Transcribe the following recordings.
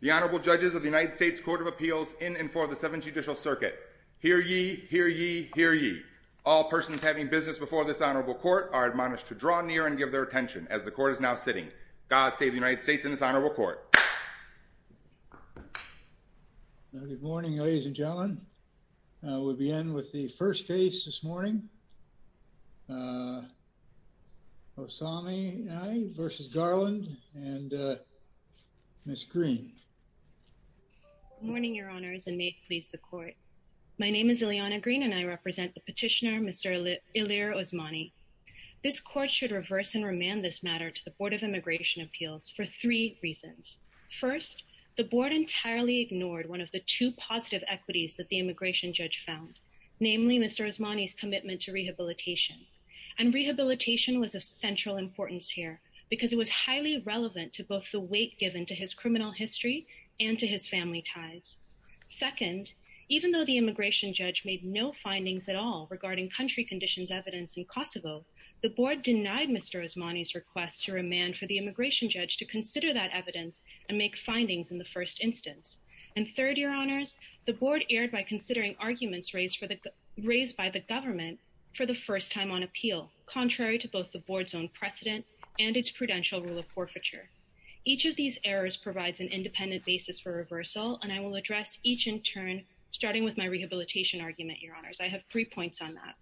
The Honorable Judges of the United States Court of Appeals in and for the Seventh Judicial Circuit. Hear ye, hear ye, hear ye. All persons having business before this honorable court are admonished to draw near and give their attention as the court is now sitting. God save the United States and this honorable court. Good morning ladies and gentlemen. We'll begin with the first case this morning. Osami versus Garland and Ms. Green. Good morning Your Honors and may it please the court. My name is Ileana Green and I represent the petitioner Mr. Ilir Osmani. This court should reverse and remand this matter to the Board of Immigration Appeals for three reasons. First, the board entirely ignored one of the two positive equities that the immigration judge found, namely Mr. Osmani's commitment to rehabilitation and rehabilitation was of central importance here because it was highly relevant to both the weight given to his criminal history and to his family ties. Second, even though the immigration judge made no findings at all regarding country conditions evidence in Kosovo, the board denied Mr. Osmani's request to remand for the immigration judge to consider that evidence and make findings in the first instance. And third, Your Honors, the board erred by considering arguments raised by the government for the first time on appeal, contrary to both the board's own precedent and its prudential rule of forfeiture. Each of these errors provides an independent basis for reversal and I will address each in turn starting with my rehabilitation argument, Your Honors. I have three points on that.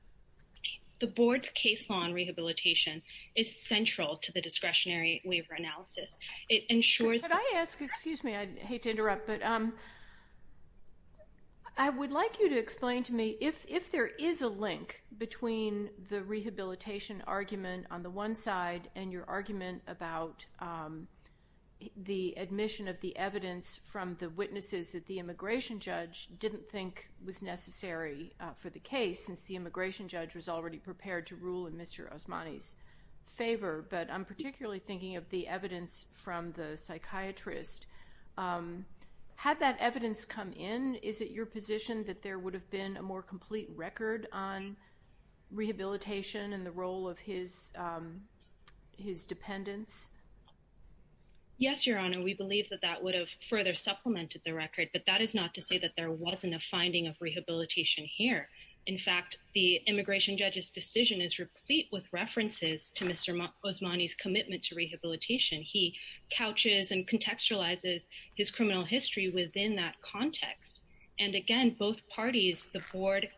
The board's case law on rehabilitation is central to the discretionary waiver analysis. It ensures... Could I ask, excuse me, I hate to interrupt, but I would like you to explain to me if there is a link between the rehabilitation argument on the one side and your argument about the admission of the evidence from the witnesses that the immigration judge didn't think was necessary for the case since the immigration judge was already prepared to rule in Mr. Osmani's favor, but I'm particularly thinking of the evidence from the psychiatrist. Had that evidence come in, is it your position that there would have been a more complete record on rehabilitation and the role of his his dependents? Yes, Your Honor. We believe that that would have further supplemented the record, but that is not to say that there wasn't a finding of rehabilitation. The board's case law on rehabilitation is replete with references to Mr. Osmani's commitment to rehabilitation. He couches and contextualizes his criminal history within that context, and again, both parties, the board,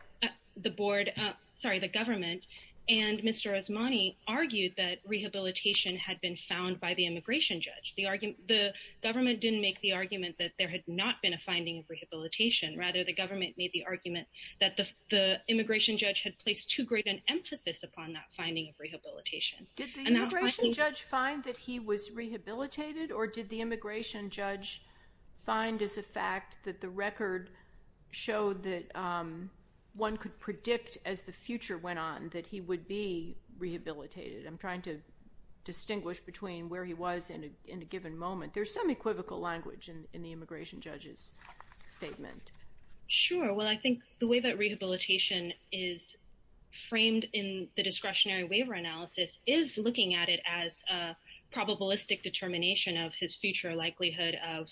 the board, sorry, the government, and Mr. Osmani argued that rehabilitation had been found by the immigration judge. The argument, the government didn't make the argument that there had not been a finding of rehabilitation. Rather, the government made the argument that the immigration judge had placed too great an emphasis upon that finding of rehabilitation. Did the immigration judge find that he was rehabilitated, or did the immigration judge find as a fact that the record showed that one could predict, as the future went on, that he would be rehabilitated? I'm trying to distinguish between where he was in a given moment. There's some equivocal language in the immigration judge's statement. Sure, well, I think the way that rehabilitation is framed in the discretionary waiver analysis is looking at it as a probabilistic determination of his future likelihood of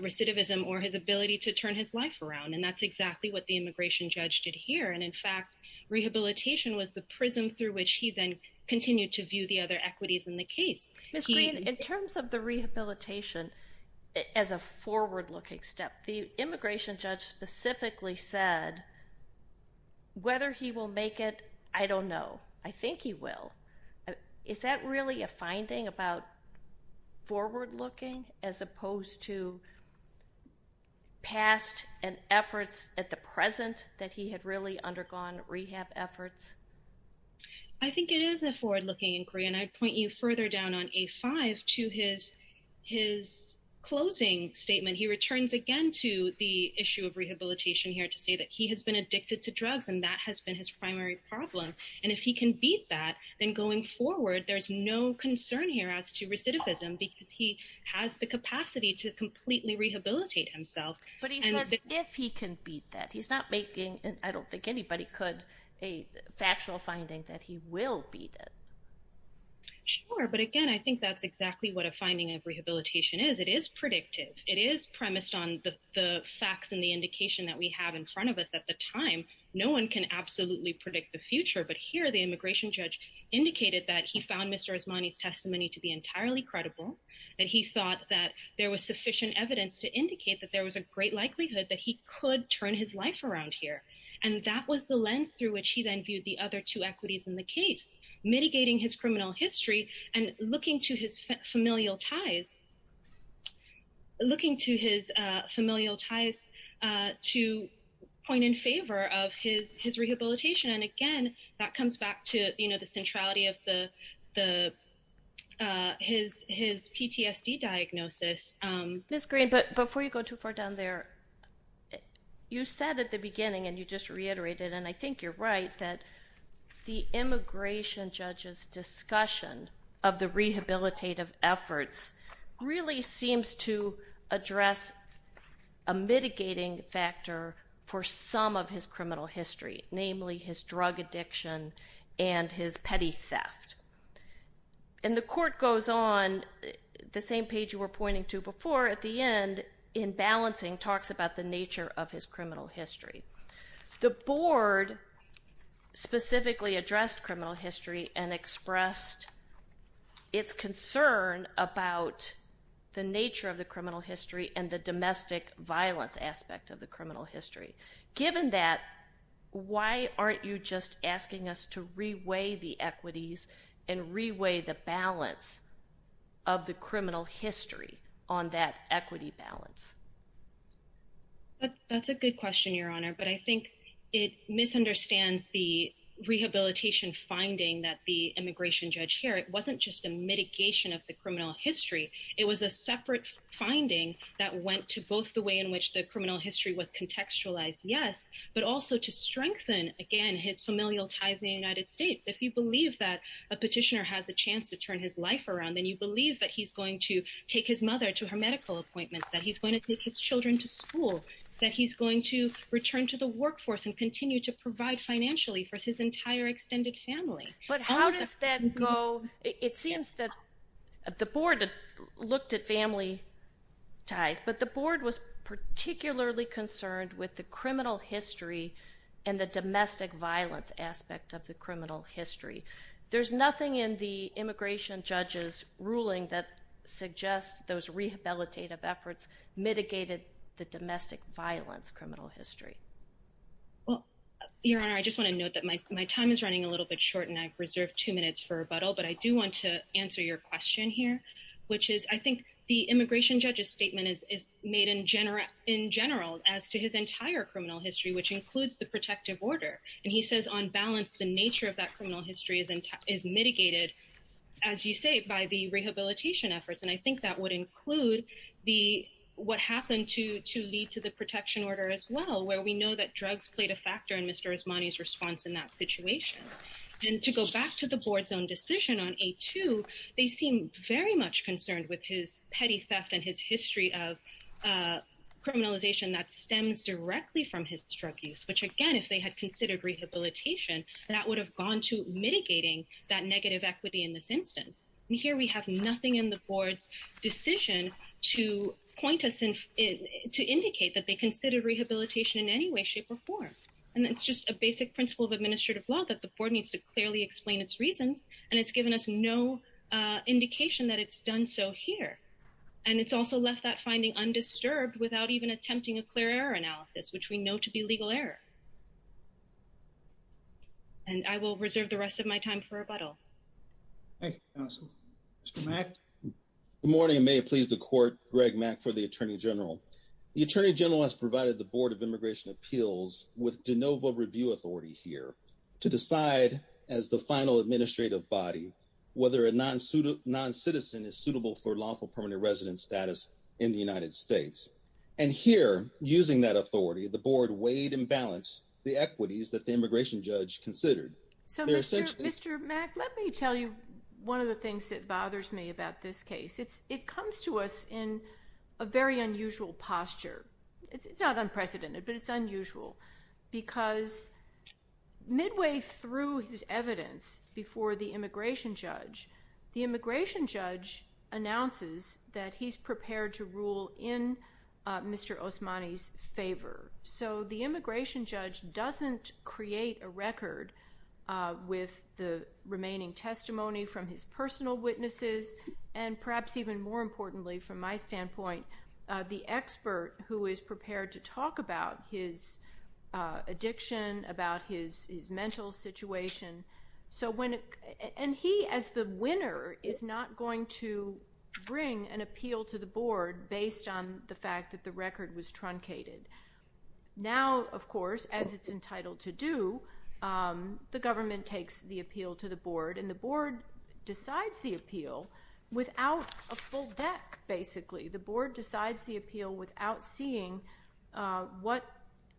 recidivism or his ability to turn his life around. And that's exactly what the immigration judge did here. And in fact, rehabilitation was the prism through which he then continued to view the other equities in the case. Ms. Green, in terms of the rehabilitation as a forward-looking step, the immigration judge specifically said, whether he will make it, I don't know. I think he will. Is that really a finding about forward-looking as opposed to past and efforts at the present that he had really undergone rehab efforts? I think it is a forward-looking inquiry. And I'd point you further down on A5 to his closing statement. He returns again to the issue of rehabilitation here to say that he has been addicted to drugs, and that has been his primary problem. And if he can beat that, then going forward, there's no concern here as to recidivism, because he has the capacity to completely rehabilitate himself. But he says, if he can beat that, he's not making, and I don't think anybody could, a factual finding that he will beat it. Sure. But again, I think that's exactly what a finding of rehabilitation is. It is predictive. It is premised on the facts and the indication that we have in front of us at the time. No one can absolutely predict the future. But here, the immigration judge indicated that he found Mr. Williams to be entirely credible, that he thought that there was sufficient evidence to indicate that there was a great likelihood that he could turn his life around here. And that was the lens through which he then viewed the other two equities in the case, mitigating his criminal history and looking to his familial ties, to point in favor of his rehabilitation. And again, that comes back to, you know, the centrality of the, his PTSD diagnosis. Ms. Green, but before you go too far down there, you said at the beginning, and you just reiterated, and I think you're right, that the immigration judge's discussion of the rehabilitative efforts really seems to address a mitigating factor for some of his criminal history, namely his drug addiction and his petty theft. And the court goes on, the same page you were pointing to before, at the end, in balancing, talks about the nature of his criminal history. The board specifically addressed criminal history and expressed its concern about the nature of the criminal history and the domestic violence aspect of the criminal history. Given that, why aren't you just asking us to reweigh the equities and reweigh the balance of the criminal history on that equity balance? That's a good question, Your Honor, but I think it misunderstands the rehabilitation finding that the immigration judge here. It wasn't just a mitigation of the criminal history. It was a separate finding that went to both the way in which the criminal history was contextualized, yes, but also to strengthen, again, his familial ties in the United States. If you believe that a petitioner has a chance to turn his life around, then you believe that he's going to take his mother to her medical appointment, that he's going to take his children to school, that he's going to return to the workforce and continue to provide financially for his entire extended family. But how does that go? It seems that the board looked at family ties, but the board was particularly concerned with the criminal history and the domestic violence aspect of the criminal history. There's nothing in the immigration judge's ruling that suggests those rehabilitative efforts mitigated the domestic violence criminal history. Well, Your Honor, I just want to note that my time is running a little bit short and I've reserved two minutes for rebuttal, but I do want to answer your question here, which is, I think the immigration judge's statement is made in general as to his entire criminal history, which includes the protective order. And he says, on balance, the nature of that criminal history is mitigated, as you say, by the rehabilitation efforts. And I think that would include what happened to lead to the protection order as well, where we know that drugs played a factor in Mr. Osmani's response in that situation. And to go back to the board's own decision on A2, they seem very much concerned with his petty theft and his history of criminalization that stems directly from his drug use, which, again, if they had considered rehabilitation, that would have gone to mitigating that negative equity in this instance. And here we have nothing in the board's decision to point us in, to indicate that they considered rehabilitation in any way, shape, or form. And it's just a basic principle of administrative law that the board needs to clearly explain its reasons. And it's given us no indication that it's done so here. And it's also left that finding undisturbed without even attempting a clear error analysis, which we know to be legal error. And I will reserve the rest of my time for rebuttal. Thank you, counsel. Mr. Mack. Good morning. May it please the court, Greg Mack for the Attorney General. The Attorney General has provided the Board of Immigration Appeals with de novo review authority here to decide as the final administrative body, whether a non-citizen is suitable for lawful permanent resident status in the United States. And here, using that authority, the board weighed and balanced the equities that the immigration judge considered. So, Mr. Mack, let me tell you one of the things that bothers me about this case. It comes to us in a very unusual posture. It's not unprecedented, but it's unusual because midway through his evidence before the immigration judge, the immigration judge announces that he's prepared to rule in Mr. Osmani's favor. So the immigration judge doesn't create a record with the remaining testimony from his personal witnesses, and perhaps even more importantly, from my standpoint, the expert who is prepared to talk about his addiction, about his mental situation. And he, as the winner, is not going to bring an appeal to the board based on the fact that the record was truncated. Now, of course, as it's entitled to do, the government takes the appeal to the board, and the board decides the appeal without a full deck, basically. The board decides the appeal without seeing what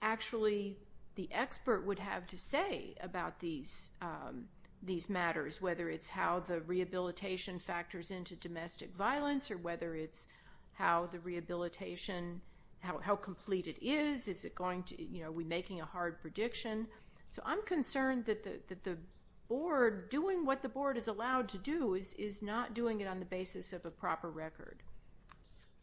actually the expert would have to say about these matters, whether it's how the rehabilitation factors into domestic violence, or whether it's how the rehabilitation, how complete it is, is it going to, you know, are we making a hard prediction? So I'm concerned that the board, doing what the board is allowed to do, is not doing it on the basis of a proper record.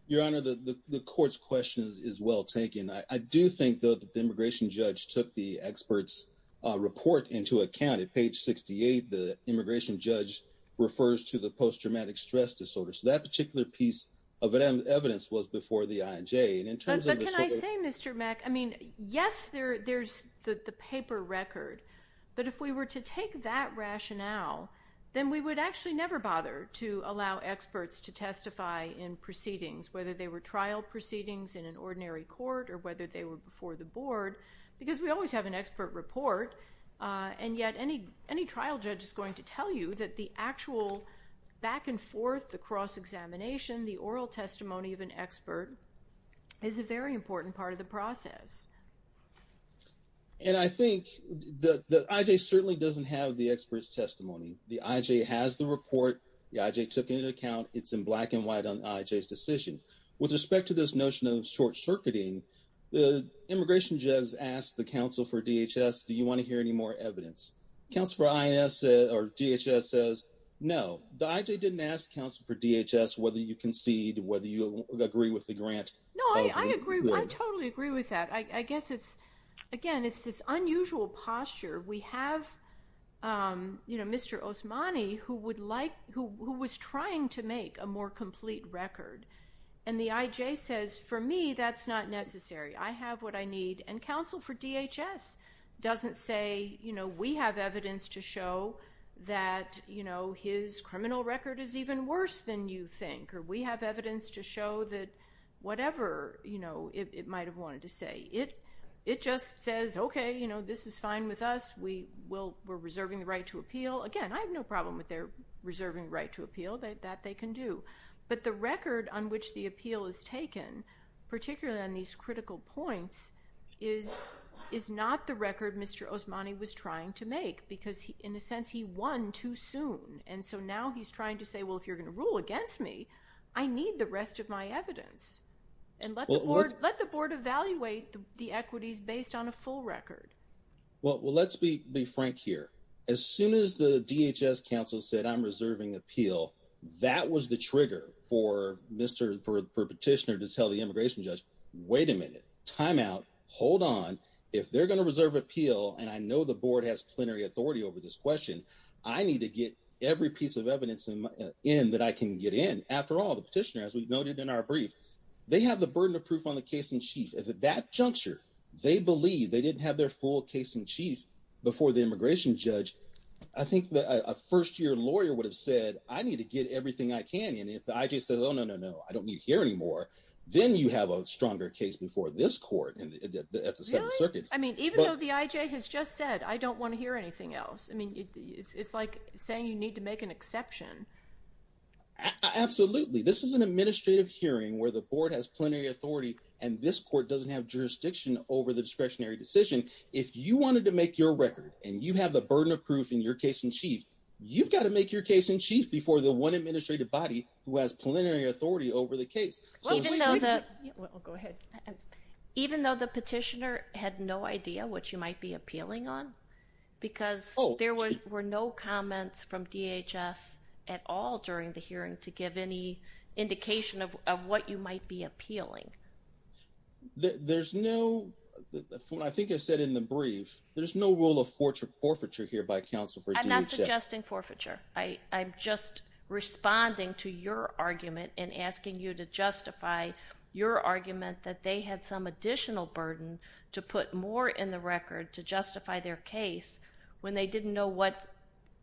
Your Honor, the court's question is well taken. I do think, though, that the immigration judge took the expert's report into account. At page 68, the immigration judge refers to the post-traumatic stress disorder. So that particular piece of evidence was before the INJ. But can I say, Mr. Mack, I mean, yes, there's the paper record. But if we were to take that rationale, then we would actually never bother to allow experts to testify in proceedings, whether they were trial proceedings in an ordinary court or whether they were before the board, because we always have an expert report. And yet, any trial judge is going to tell you that the actual back and forth, the cross-examination, the oral testimony of an expert is a very important part of the process. And I think the IJ certainly doesn't have the expert's testimony. The IJ has the report. The IJ took it into account. It's in black and white on the IJ's decision. With respect to this notion of short-circuiting, the immigration judge asked the counsel for DHS, do you want to hear any more evidence? Counsel for INS or DHS says no. The IJ didn't ask counsel for DHS whether you concede, whether you agree with the grant. No, I agree. I totally agree with that. I guess it's, again, it's this unusual posture. We have, you know, Mr. Osmani, who would like, who was trying to make a more complete record, and the IJ says for me, that's not necessary. I have what I need, and counsel for DHS doesn't say, you know, we have evidence to show that, you know, his criminal record is even worse than you think, or we have evidence to show that whatever, you know, it might have wanted to say. It just says, okay, you know, this is fine with us. We will, we're reserving the right to appeal. Again, I have no problem with their reserving the right to appeal. That they can do. But the record on which the appeal is taken, particularly on these critical points, is not the record Mr. Osmani was trying to make, because in a sense, he won too soon. And so now he's trying to say, well, if you're going to rule against me, I need the rest of my evidence, and let the board evaluate the equities based on a full record. Well, let's be frank here. As soon as the DHS counsel said, I'm reserving appeal, that was the trigger for Mr. Petitioner to tell the immigration judge, wait a minute, time out, hold on. If they're going to reserve appeal, and I know the board has plenary authority over this question, I need to get every piece of evidence in that I can get in. After all, the petitioner, as we've noted in our brief, they have the burden of proof on the case in chief. If at that juncture, they believe they didn't have their full case in chief before the immigration judge, I think a first year lawyer would have said, I need to get everything I can. And if the IJ says, oh, no, no, no, I don't need to hear anymore, then you have a stronger case before this court at the second circuit. I mean, even though the IJ has just said, I don't want to hear anything else. I mean, it's like saying you need to make an exception. Absolutely. This is an administrative hearing where the board has plenary authority, and this court doesn't have jurisdiction over the discretionary decision. If you wanted to make your record, and you have the burden of proof in your case in chief, you've got to make your case in chief before the one administrative body who has plenary authority over the case. Even though the petitioner had no idea what you might be appealing on, because there were no comments from DHS at all during the hearing to give any indication of what you might be appealing. There's no, I think I said in the brief, there's no rule of forfeiture here by counsel for DHS. I'm not suggesting forfeiture. I'm just responding to your argument and asking you to justify your argument that they had some additional burden to put more in the record to justify their case when they didn't know what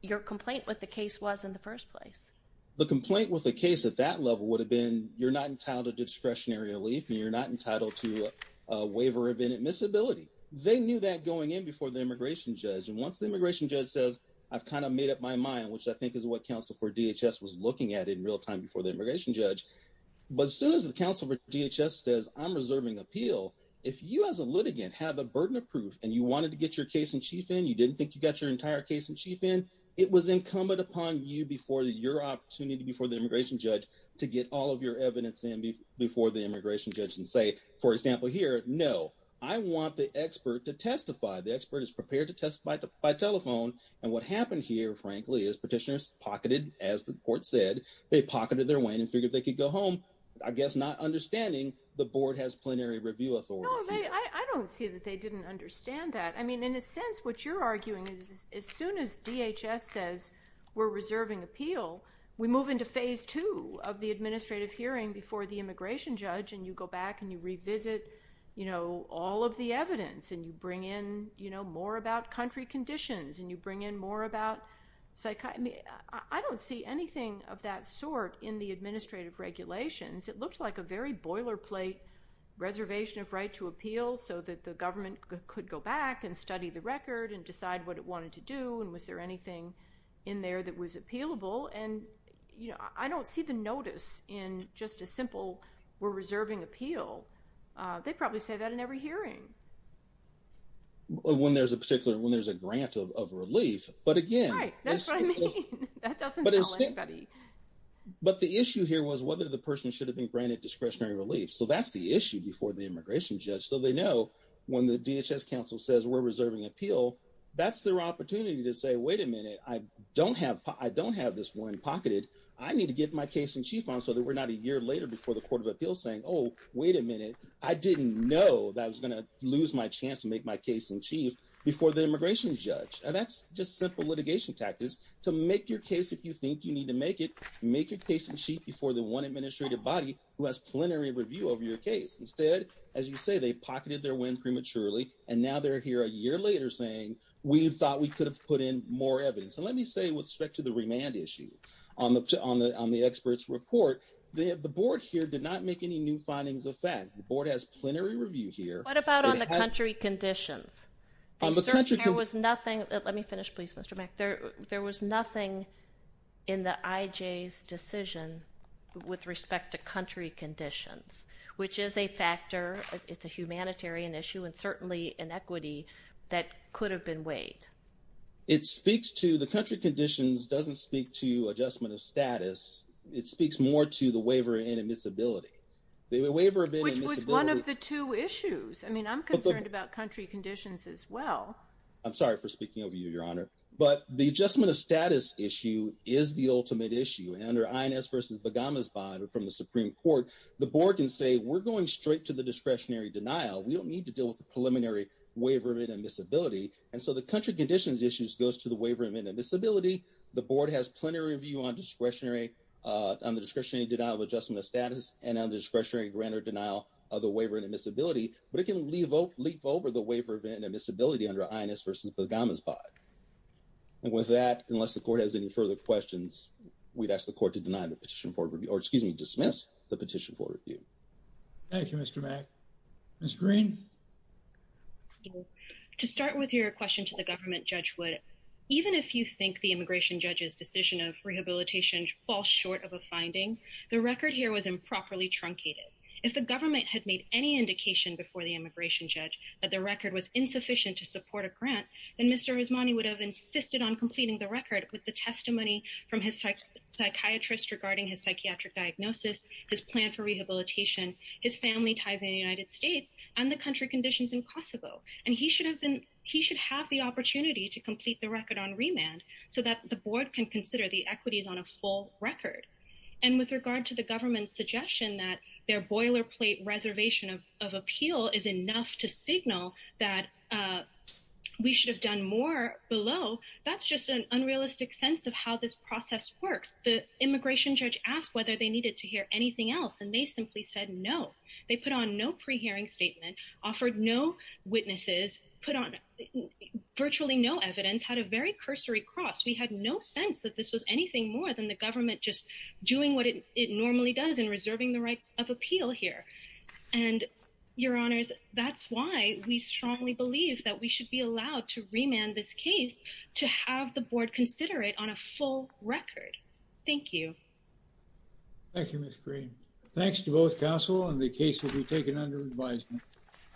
your complaint with the case was in the first place. The complaint with the case at that level would have been, you're not entitled to discretionary relief, and you're not entitled to a waiver of inadmissibility. They knew that going in before the immigration judge, and once the immigration judge says, I've kind of made up my mind, which I think is what counsel for DHS was looking at in real time before the immigration judge. But as soon as the counsel for DHS says I'm reserving appeal, if you as a litigant have a burden of proof, and you wanted to get your case in chief in, you didn't think you got your entire case in chief in, it was incumbent upon you before your opportunity before the immigration judge to get all of your evidence in before the immigration judge and say, for example, here, no. I want the expert to testify. The expert is prepared to testify by telephone. And what happened here, frankly, is petitioners pocketed, as the court said, they pocketed their win and figured they could go home, I guess not understanding the board has plenary review authority. No, I don't see that they didn't understand that. I mean, in a sense, what you're arguing is as soon as DHS says we're reserving appeal, we move into phase two of the administrative hearing before the immigration judge, and you go back and you revisit, you know, all of the evidence, and you bring in, you know, more about country conditions, and you bring in more about, I mean, I don't see anything of that sort in the administrative regulations. It looked like a very boilerplate reservation of right to appeal so that the government could go back and study the record and decide what it wanted to do. And was there anything in there that was appealable? And, you know, I don't see the notice in just a simple, we're reserving appeal. They probably say that in every hearing. When there's a particular, when there's a grant of relief, but again, Right, that's what I mean. That doesn't tell anybody. But the issue here was whether the person should have been granted discretionary relief. So that's the issue before the immigration judge. So they know when the DHS council says we're reserving appeal, that's their opportunity to say, wait a minute. I don't have, I don't have this one pocketed. I need to get my case in chief on so that we're not a year later before the court of appeals saying, oh, wait a minute. I didn't know that I was going to lose my chance to make my case in chief before the immigration judge. And that's just simple litigation tactics to make your case. If you think you need to make it, make your case in chief before the one administrative body who has plenary review over your case. Instead, as you say, they pocketed their win prematurely. And now they're here a year later saying we thought we could have put in more evidence. And let me say with respect to the remand issue on the experts report, the board here did not make any new findings of fact. The board has plenary review here. What about on the country conditions? There was nothing. Let me finish, please, Mr. Mack. There was nothing in the IJ's decision with respect to country conditions, which is a factor. It's a humanitarian issue and certainly an equity that could have been weighed. It speaks to, the country conditions doesn't speak to adjustment of status. It speaks more to the waiver and admissibility. The waiver and admissibility. Which was one of the two issues. I'm concerned about country conditions as well. I'm sorry for speaking over you, your honor. But the adjustment of status issue is the ultimate issue. And under INS versus Bagamas bond from the Supreme Court, the board can say we're going straight to the discretionary denial. We don't need to deal with the preliminary waiver and admissibility. And so the country conditions issues goes to the waiver and admissibility. The board has plenary review on discretionary, on the discretionary denial of adjustment of status and on the discretionary grant or denial of the waiver and admissibility. But it can leap over the waiver and admissibility under INS versus Bagamas bond. And with that, unless the court has any further questions, we'd ask the court to deny the petition for review or excuse me, dismiss the petition for review. Thank you, Mr. Mack. Ms. Green. To start with your question to the government, Judge Wood. Even if you think the immigration judge's decision of rehabilitation falls short of a finding, the record here was improperly truncated. If the government had made any indication before the immigration judge that the record was insufficient to support a grant, then Mr. Osmani would have insisted on completing the record with the testimony from his psychiatrist regarding his psychiatric diagnosis, his plan for rehabilitation, his family ties in the United States and the country conditions in Kosovo. And he should have been, he should have the opportunity to complete the record on remand so that the board can consider the equities on a full record. And with regard to the government's suggestion that their boilerplate reservation of appeal is enough to signal that we should have done more below, that's just an unrealistic sense of how this process works. The immigration judge asked whether they needed to hear anything else and they simply said no. They put on no pre-hearing statement, offered no witnesses, put on virtually no evidence, had a very cursory cross. We had no sense that this was anything more than the government just doing what it normally does in reserving the right of appeal here. And your honors, that's why we strongly believe that we should be allowed to remand this case to have the board consider it on a full record. Thank you. Thank you, Ms. Green. Thanks to both counsel and the case will be taken under advisement.